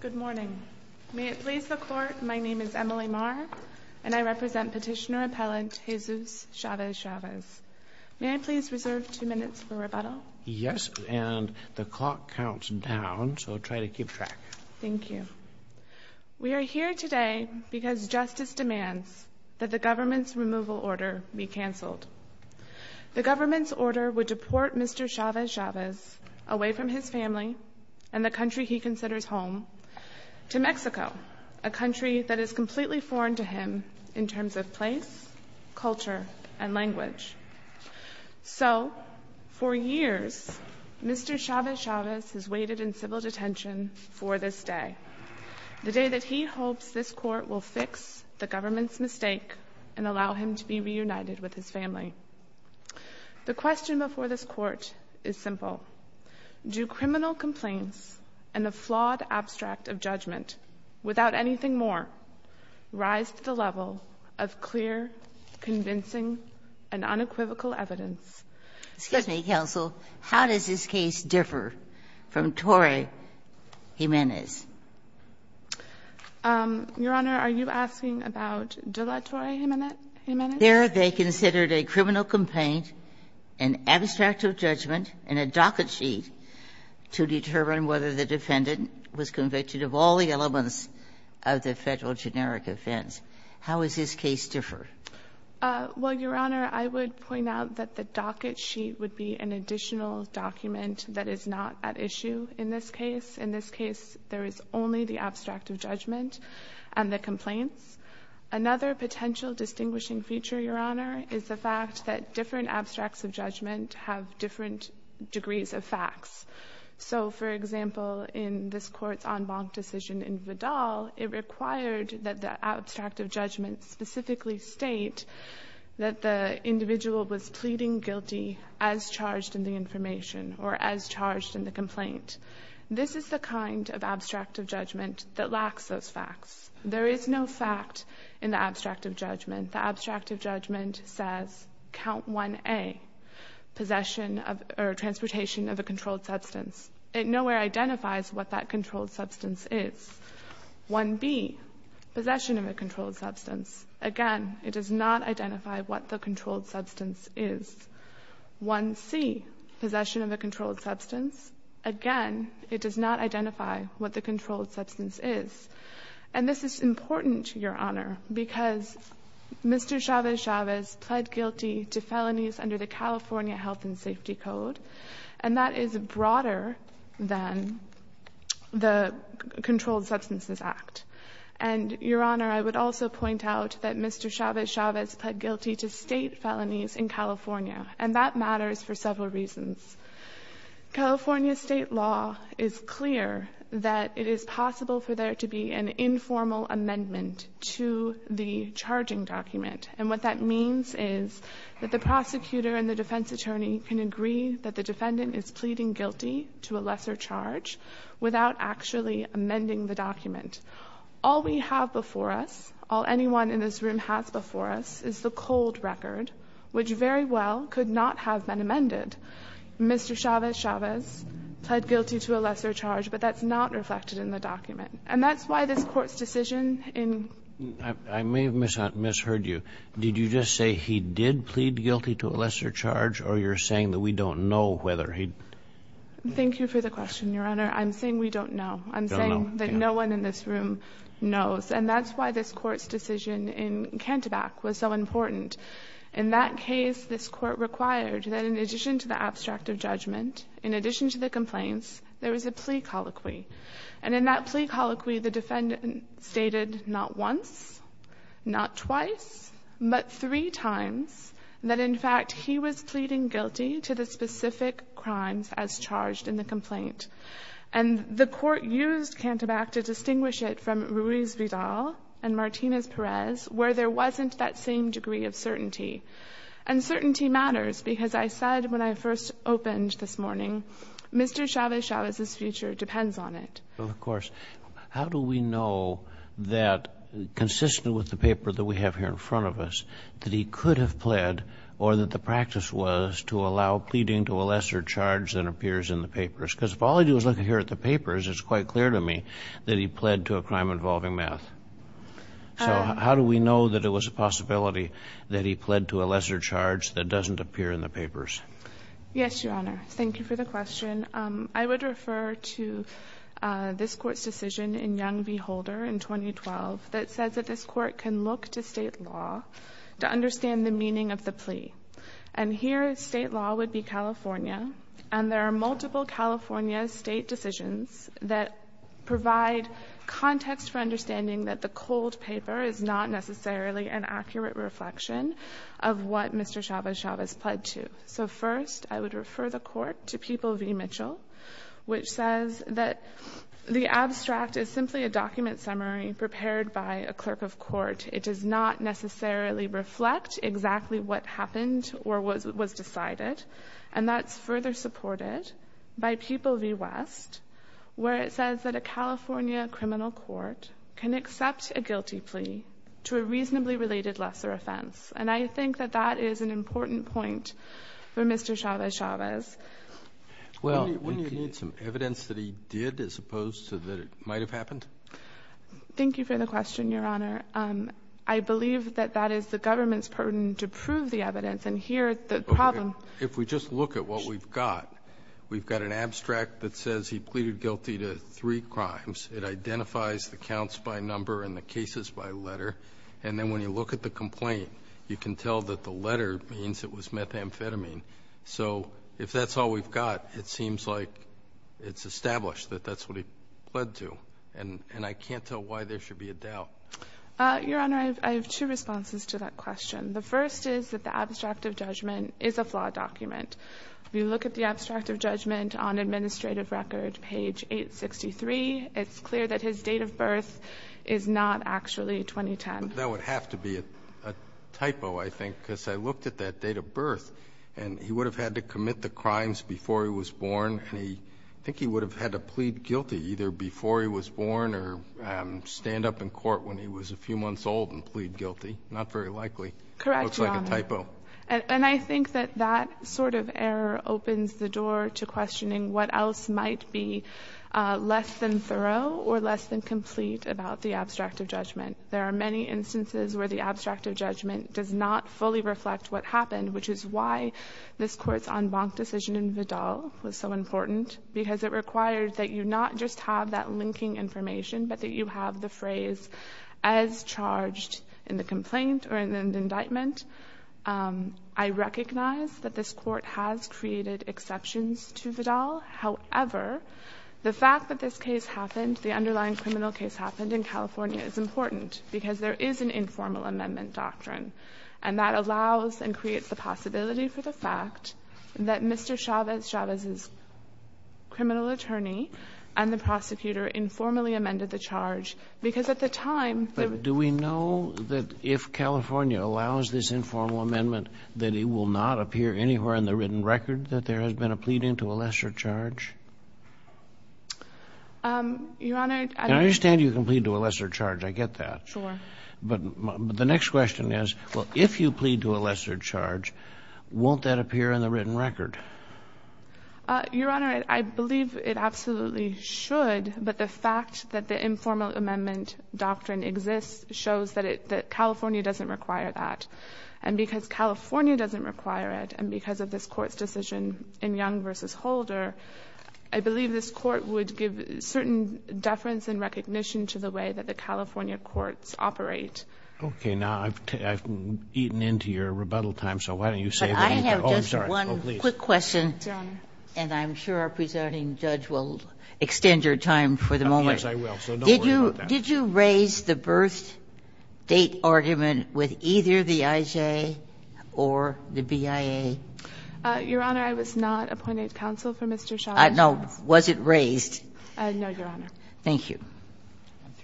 Good morning. May it please the court, my name is Emily Mar and I represent petitioner appellant Jesus Chavez-Chavez. May I please reserve two minutes for rebuttal? Yes, and the clock counts down so try to keep track. Thank you. We are here today because justice demands that the government's removal order be canceled. The government's order would deport Mr. Chavez-Chavez away from his family, and the country he considers home, to Mexico, a country that is completely foreign to him in terms of place, culture, and language. So for years Mr. Chavez-Chavez has waited in civil detention for this day. The day that he hopes this court will fix the government's mistake and allow him to be and the flawed abstract of judgment without anything more, rise to the level of clear, convincing, and unequivocal evidence. Excuse me, counsel, how does this case differ from Torrey Jimenez? Your Honor, are you asking about Dela Torrey Jimenez? There they considered a criminal complaint, an abstract of judgment, and a docket sheet to determine whether the defendant was convicted of all the elements of the federal generic offense. How is this case differ? Well, Your Honor, I would point out that the docket sheet would be an additional document that is not at issue in this case. In this case, there is only the abstract of judgment and the complaints. Another potential distinguishing feature, Your Honor, is the fact that different abstracts of judgment have different degrees of facts. So, for example, in this court's en banc decision in Vidal, it required that the abstract of judgment specifically state that the individual was pleading guilty as charged in the information or as charged in the complaint. This is the kind of abstract of judgment. The abstract of judgment says, count 1A, possession of or transportation of a controlled substance. It nowhere identifies what that controlled substance is. 1B, possession of a controlled substance. Again, it does not identify what the controlled substance is. 1C, possession of a controlled substance. Again, it does not identify what the controlled substance is. And this is important, Your Honor, because Mr. Chavez-Chavez pled guilty to felonies under the California Health and Safety Code, and that is broader than the Controlled Substances Act. And, Your Honor, I would also point out that Mr. Chavez-Chavez pled guilty to state felonies in California, and that matters for several reasons. California State law is clear that it is possible for there to be an informal amendment to the charging document. And what that means is that the prosecutor and the defense attorney can agree that the defendant is pleading guilty to a lesser charge without actually amending the document. All we have before us, all anyone in this room has before us, is the cold record, which very well could not have been amended. Mr. Chavez-Chavez pled guilty to a lesser charge, but that's not reflected in the document. And that's why this Court's decision in — I may have misheard you. Did you just say he did plead guilty to a lesser charge, or you're saying that we don't know whether he — Thank you for the question, Your Honor. I'm saying we don't know. I'm saying that no one in this room knows. And that's why this Court's decision in Canterback was so important. In that case, this Court required that, in addition to the abstractive judgment, in addition to the complaints, there was a plea colloquy. And in that plea colloquy, the defendant stated not once, not twice, but three times that, in fact, he was pleading guilty to the specific crimes as charged in the complaint. And the Court used Canterback to distinguish it from Ruiz-Vidal and Martinez-Perez, where there wasn't that same degree of certainty. And certainty matters, because as I said when I first opened this morning, Mr. Chavez-Chavez's future depends on it. Of course. How do we know that, consistent with the paper that we have here in front of us, that he could have pled or that the practice was to allow pleading to a lesser charge than appears in the papers? Because if all I do is look here at the papers, it's quite clear to me that he pled to a crime involving meth. So how do we know that it was a possibility that he pled to a lesser charge that doesn't appear in the papers? Yes, Your Honor. Thank you for the question. I would refer to this Court's decision in Young v. Holder in 2012 that says that this Court can look to State law to understand the meaning of the plea. And here, State law would be California, and there are multiple California State decisions that provide context for understanding that the cold paper is not necessarily an accurate reflection of what Mr. Chavez-Chavez pled to. So first, I would refer the Court to People v. Mitchell, which says that the abstract is simply a document summary prepared by a clerk of court. It does not necessarily reflect exactly what happened or was decided. And that's further supported by People v. West, where it says that a California criminal court can accept a guilty plea to a reasonably related lesser offense. And I think that that is an important point for Mr. Chavez-Chavez. Well, and can you give some evidence that he did as opposed to that it might have happened? Thank you for the question, Your Honor. I believe that that is the government's burden to prove the evidence. And here, the problem --- Okay. If we just look at what we've got, we've got an abstract that says he pleaded guilty to three crimes. It identifies the counts by number and the cases by letter. And then when you look at the complaint, you can tell that the letter means it was methamphetamine. So if that's all we've got, it seems like it's established that that's what he pled to. And I can't tell why there should be a doubt. Your Honor, I have two responses to that question. The first is that the abstract of judgment is a flawed document. If you look at the abstract of judgment on administrative record, page 863, it's clear that his date of birth is not actually 2010. But that would have to be a typo, I think, because I looked at that date of birth, and he would have had to commit the crimes before he was born. And I think he would have had to plead guilty either before he was born or stand up in court when he was a few months old and plead guilty. Not very likely. Correct, Your Honor. It looks like a typo. And I think that that sort of error opens the door to questioning what else might be less than thorough or less than complete about the abstract of judgment. There are many instances where the abstract of judgment does not fully reflect what happened, which is why this Court's en banc decision in Vidal was so important, because it required that you not just have that linking information, but that you have the phrase, as charged in the complaint or in the indictment. I recognize that this Court has created exceptions to Vidal. However, the fact that this case happened, the underlying criminal case happened in California, is important because there is an informal amendment doctrine. And that allows and creates the possibility for the fact that Mr. Chavez, Chavez's criminal attorney, and the prosecutor informally amended the charge, because at the time the — California allows this informal amendment that it will not appear anywhere in the written record that there has been a pleading to a lesser charge? Your Honor, I don't — And I understand you can plead to a lesser charge. I get that. Sure. But the next question is, well, if you plead to a lesser charge, won't that appear in the written record? Your Honor, I believe it absolutely should, but the fact that the informal amendment doctrine exists shows that it — that California doesn't require that. And because California doesn't require it, and because of this Court's decision in Young v. Holder, I believe this Court would give certain deference and recognition to the way that the California courts operate. Okay. Now, I've eaten into your rebuttal time, so why don't you save it and go on. Oh, I'm sorry. I have just one quick question. Your Honor. And I'm sure our presenting judge will extend your time for the moment. Yes, I will. So don't worry about that. Did you raise the birth-date argument with either the IJ or the BIA? Your Honor, I was not appointed counsel for Mr. Shah. No. Was it raised? No, Your Honor. Thank you.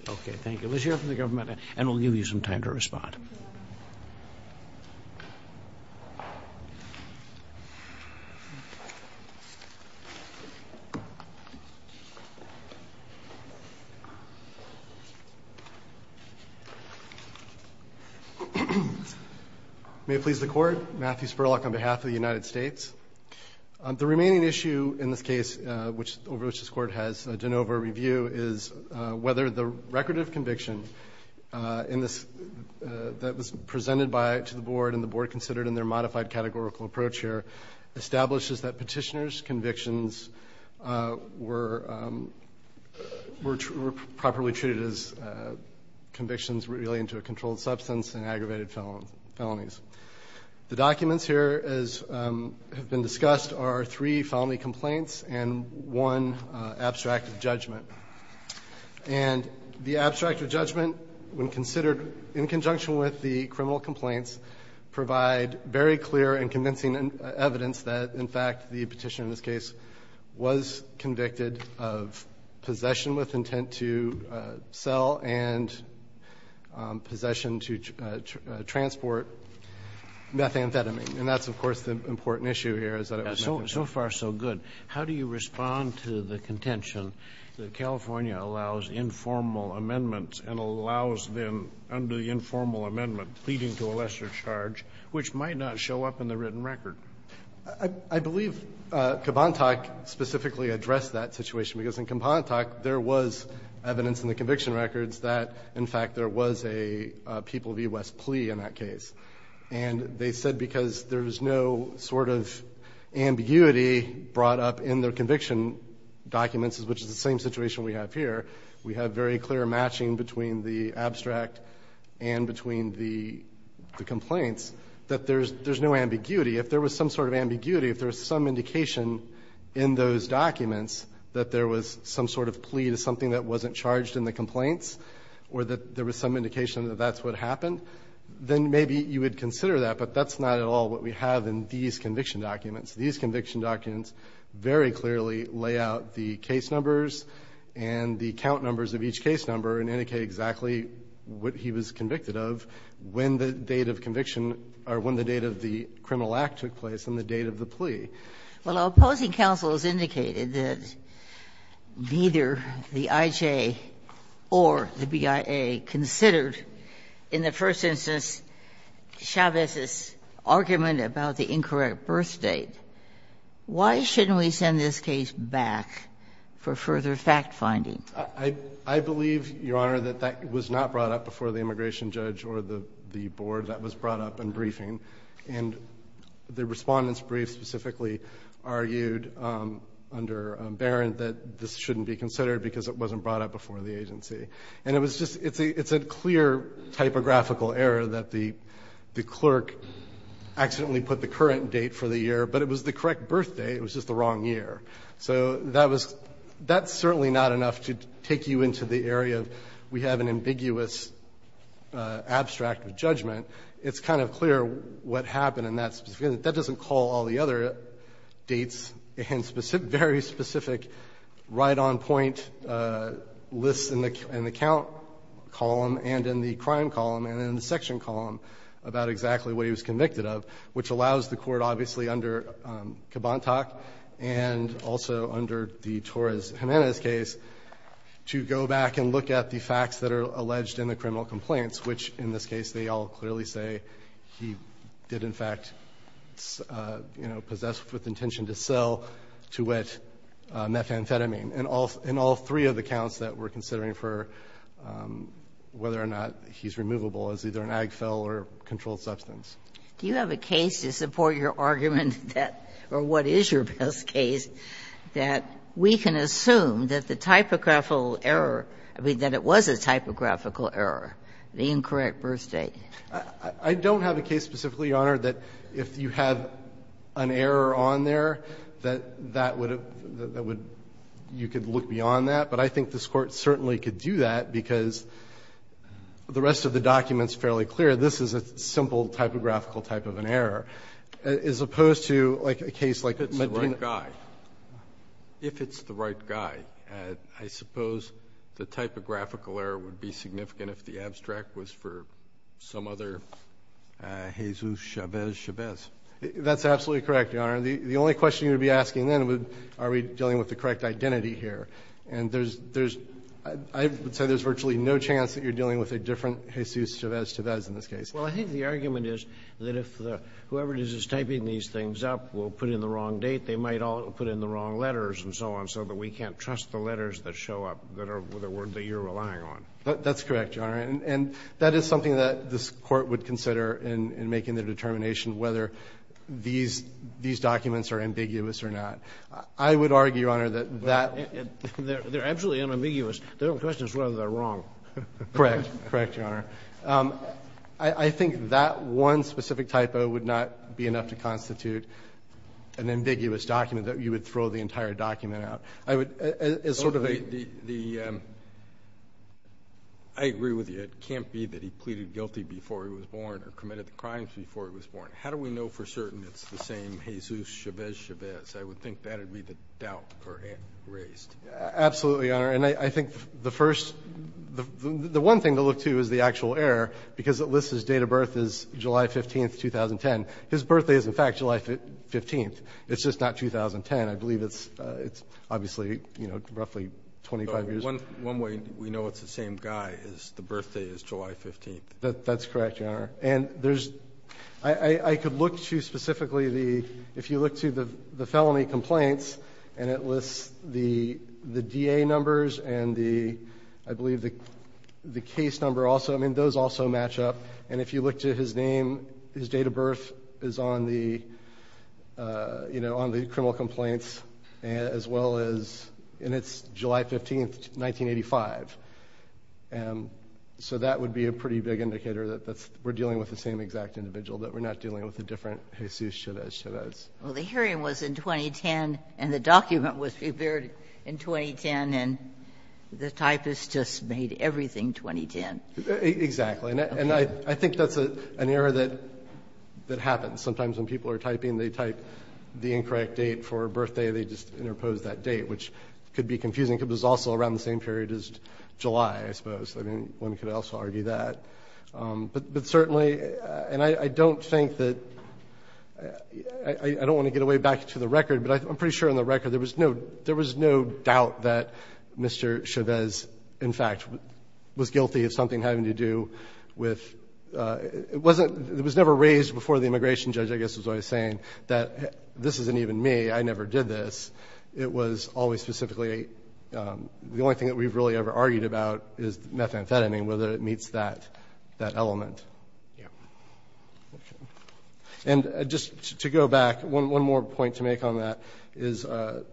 Okay. Thank you. Let's hear from the government, and we'll give you some time to respond. May it please the Court. Matthew Spurlock on behalf of the United States. The remaining issue in this case over which this Court has done over review is whether the record of conviction that was presented to the Board and the Board considered in their modified categorical approach here establishes that Petitioner's convictions were properly treated as convictions related to a controlled substance and aggravated felonies. The documents here have been discussed are three felony complaints and one abstract judgment. And the abstract judgment, when considered in conjunction with the criminal complaints, provide very clear and convincing evidence that, in fact, the Petitioner in this case was convicted of possession with intent to sell and possession to transport methamphetamine. And that's, of course, the important issue here is that it was methamphetamine. But it's not so far so good. How do you respond to the contention that California allows informal amendments and allows them under the informal amendment, pleading to a lesser charge, which might not show up in the written record? I believe Kibantak specifically addressed that situation, because in Kibantak, there was evidence in the conviction records that, in fact, there was a people-of-U.S. They brought up in their conviction documents, which is the same situation we have here, we have very clear matching between the abstract and between the complaints, that there's no ambiguity. If there was some sort of ambiguity, if there was some indication in those documents that there was some sort of plea to something that wasn't charged in the complaints or that there was some indication that that's what happened, then maybe you would consider that. But that's not at all what we have in these conviction documents. These conviction documents very clearly lay out the case numbers and the count numbers of each case number and indicate exactly what he was convicted of, when the date of conviction or when the date of the criminal act took place and the date of the plea. Well, opposing counsel has indicated that neither the IJ or the BIA considered in the first instance Chavez's argument about the incorrect birth date. Why shouldn't we send this case back for further fact-finding? I believe, Your Honor, that that was not brought up before the immigration judge or the board that was brought up in briefing. And the Respondent's brief specifically argued under Barron that this shouldn't be considered because it wasn't brought up before the agency. And it was just, it's a clear typographical error that the clerk accidentally put the current date for the year, but it was the correct birthday, it was just the wrong year. So that was, that's certainly not enough to take you into the area of we have an ambiguous abstract of judgment. It's kind of clear what happened in that specific, that doesn't call all the other dates and very specific right-on-point lists in the count column and in the crime column and in the section column about exactly what he was convicted of, which allows the court, obviously, under Kibantak and also under the Torres-Jimenez case, to go back and look at the facts that are alleged in the criminal complaints, which in this case they all clearly say he did, in fact, you know, possess with intention to sell, to wit, methamphetamine in all three of the counts that we're considering for whether or not he's removable as either an Agfel or a controlled substance. Do you have a case to support your argument that, or what is your best case, that we can assume that the typographical error, I mean, that it was a typographical error, the incorrect birth date? I don't have a case specifically, Your Honor, that if you have an error on there, that that would have, that would, you could look beyond that. But I think this Court certainly could do that because the rest of the document is fairly clear. This is a simple typographical type of an error, as opposed to, like, a case like Medina. If it's the right guy, if it's the right guy, I suppose the typographical error would be significant if the abstract was for some other Jesus Chavez Chavez. That's absolutely correct, Your Honor. The only question you would be asking then would, are we dealing with the correct identity here? And there's, I would say there's virtually no chance that you're dealing with a different Jesus Chavez Chavez in this case. Well, I think the argument is that if the, whoever it is that's typing these things up will put in the wrong date. They might all put in the wrong letters and so on, so that we can't trust the letters that show up that are, that you're relying on. That's correct, Your Honor. And that is something that this Court would consider in making the determination whether these, these documents are ambiguous or not. I would argue, Your Honor, that that... They're absolutely unambiguous. The only question is whether they're wrong. Correct. Correct, Your Honor. I think that one specific typo would not be enough to constitute an ambiguous document that you would throw the entire document out. I would, as sort of a... I agree with you. It can't be that he pleaded guilty before he was born or committed the crimes before he was born. How do we know for certain it's the same Jesus Chavez Chavez? I would think that would be the doubt raised. Absolutely, Your Honor. And I think the first, the one thing to look to is the actual error, because it lists his date of birth as July 15th, 2010. His birthday is in fact July 15th. It's just not 2010. I believe it's obviously, you know, roughly 25 years... One way we know it's the same guy is the birthday is July 15th. That's correct, Your Honor. And there's... I could look to specifically the... If you look to the felony complaints and it lists the DA numbers and the, I believe the case number also, I mean, those also match up. And if you look to his name, his date of birth is on the, you know, on the criminal complaints as well as... And it's July 15th, 1985. So that would be a pretty big indicator that we're dealing with the same exact individual, that we're not dealing with a different Jesus Chavez Chavez. Well, the hearing was in 2010 and the document was prepared in 2010 and the typist just made everything 2010. Exactly. And I think that's an error that happens. Sometimes when people are typing, they type the incorrect date for a birthday, they just interpose that date, which could be confusing because it's also around the same period as July I suppose. I mean, one could also argue that. But certainly... And I don't think that... I don't want to get away back to the record, but I'm pretty sure on the record there was no doubt that Mr. Chavez, in fact, was guilty of something having to do with... It wasn't... It was never raised before the immigration judge, I guess, was always saying that this isn't even me, I never did this. It was always specifically... The only thing that we've really ever argued about is methamphetamine, whether it meets that element. And just to go back, one more point to make on that is a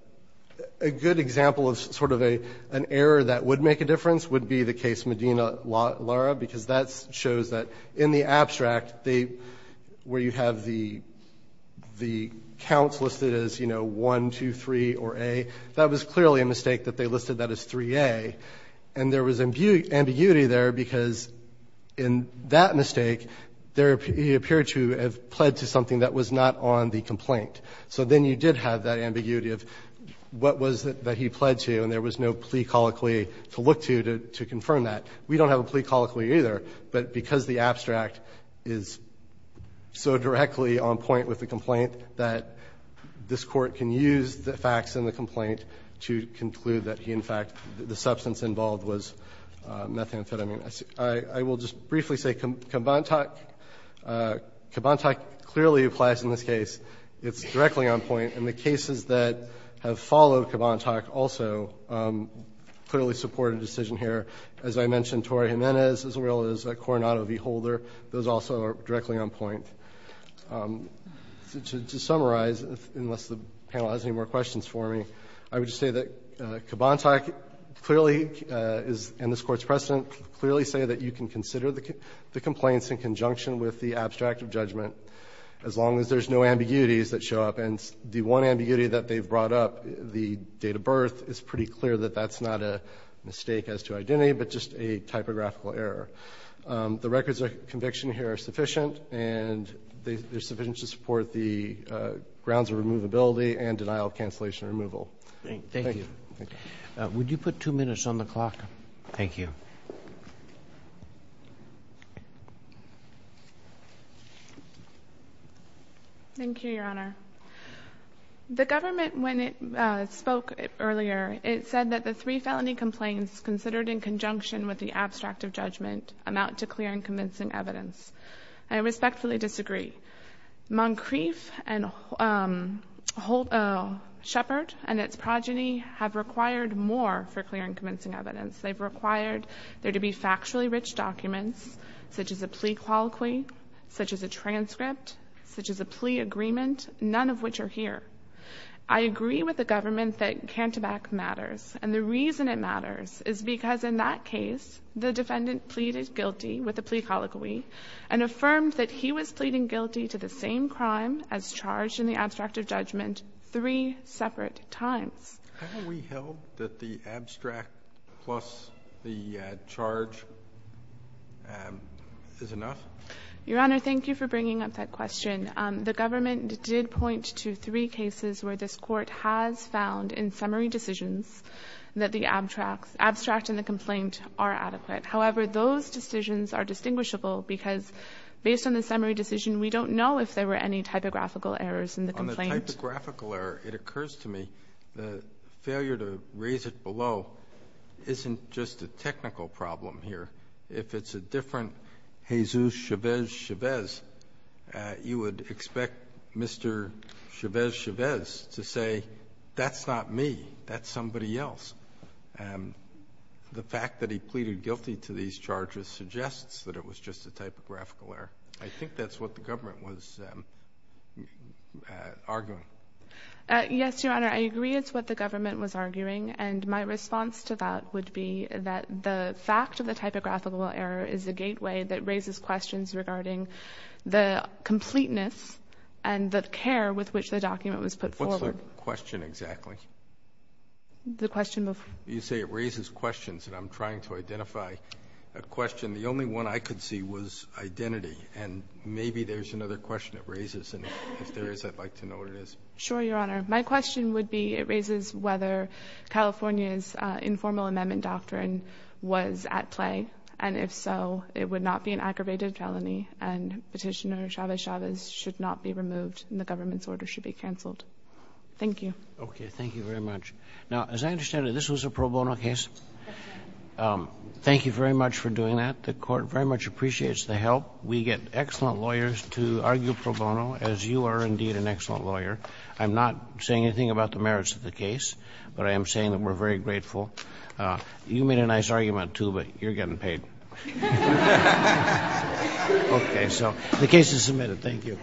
good example of sort of an error that would make a difference would be the case Medina Lara, because that shows that in the abstract, where you have the counts listed as 1, 2, 3, or A, that was clearly a mistake that they listed that as 3A. And there was ambiguity there because in that mistake, he appeared to have pled to something that was not on the complaint. So then you did have that ambiguity of what was it that he pled to, and there was no plea colloquy to look to to confirm that. We don't have a plea colloquy either, but because the abstract is so directly on point with the complaint that this court can use the facts in the complaint to conclude that he, in fact, the substance involved was methamphetamine. I will just briefly say Kibantak clearly applies in this case. It's directly on point. And the cases that have followed Kibantak also clearly support a decision here. As I mentioned, Torrey Jimenez, as well as Coronado V. Holder, those also are directly on point. To summarize, unless the panel has any more questions for me, I would just say that Kibantak clearly is in this Court's precedent, clearly say that you can consider the complaints in conjunction with the abstract of judgment as long as there's no ambiguities that show up. And the one ambiguity that they've brought up, the date of birth, it's pretty clear that that's not a mistake as to identity, but just a typographical error. The records of conviction here are sufficient, and they're sufficient to support the grounds of removability and denial of cancellation removal. Thank you. Thank you. Thank you. Would you put two minutes on the clock? Thank you. Thank you, Your Honor. The government, when it spoke earlier, it said that the three felony complaints considered in conjunction with the abstract of judgment amount to clear and convincing evidence. I respectfully disagree. Moncrief and Sheppard and its progeny have required more for clear and convincing evidence. They've required there to be factually rich documents, such as a plea colloquy, such as a transcript, such as a plea agreement, none of which are here. I agree with the government that Cantabac matters, and the reason it matters is because in that case, the defendant pleaded guilty with a plea colloquy and affirmed that he was pleading guilty to the same crime as charged in the abstract of judgment three separate times. Haven't we held that the abstract plus the charge is enough? Your Honor, thank you for bringing up that question. The government did point to three cases where this Court has found in summary decisions that the abstract and the complaint are adequate. However, those decisions are distinguishable because based on the summary decision, we don't know if there were any typographical errors in the complaint. On the typographical error, it occurs to me the failure to raise it below isn't just a technical problem here. If it's a different Jesus Chavez Chavez, you would expect Mr. Chavez Chavez to say that's not me, that's somebody else. The fact that he pleaded guilty to these charges suggests that it was just a typographical error. I think that's what the government was arguing. Yes, Your Honor, I agree it's what the government was arguing, and my response to that would be that the fact of the typographical error is a gateway that raises questions regarding the completeness and the care with which the document was put forward. What's the question exactly? The question before. You say it raises questions, and I'm trying to identify a question. The only one I could see was identity, and maybe there's another question it raises, and if there is, I'd like to know what it is. Sure, Your Honor. My question would be, it raises whether California's informal amendment doctrine was at play, and if so, it would not be an aggravated felony, and Petitioner Chavez Chavez should not be removed, and the government's order should be canceled. Thank you. Okay. Thank you very much. Now, as I understand it, this was a pro bono case. Thank you very much for doing that. The Court very much appreciates the help. We get excellent lawyers to argue pro bono, as you are indeed an excellent lawyer. I'm not saying anything about the merits of the case, but I am saying that we're very grateful. You made a nice argument, too, but you're getting paid. Okay, so the case is submitted. Thank you.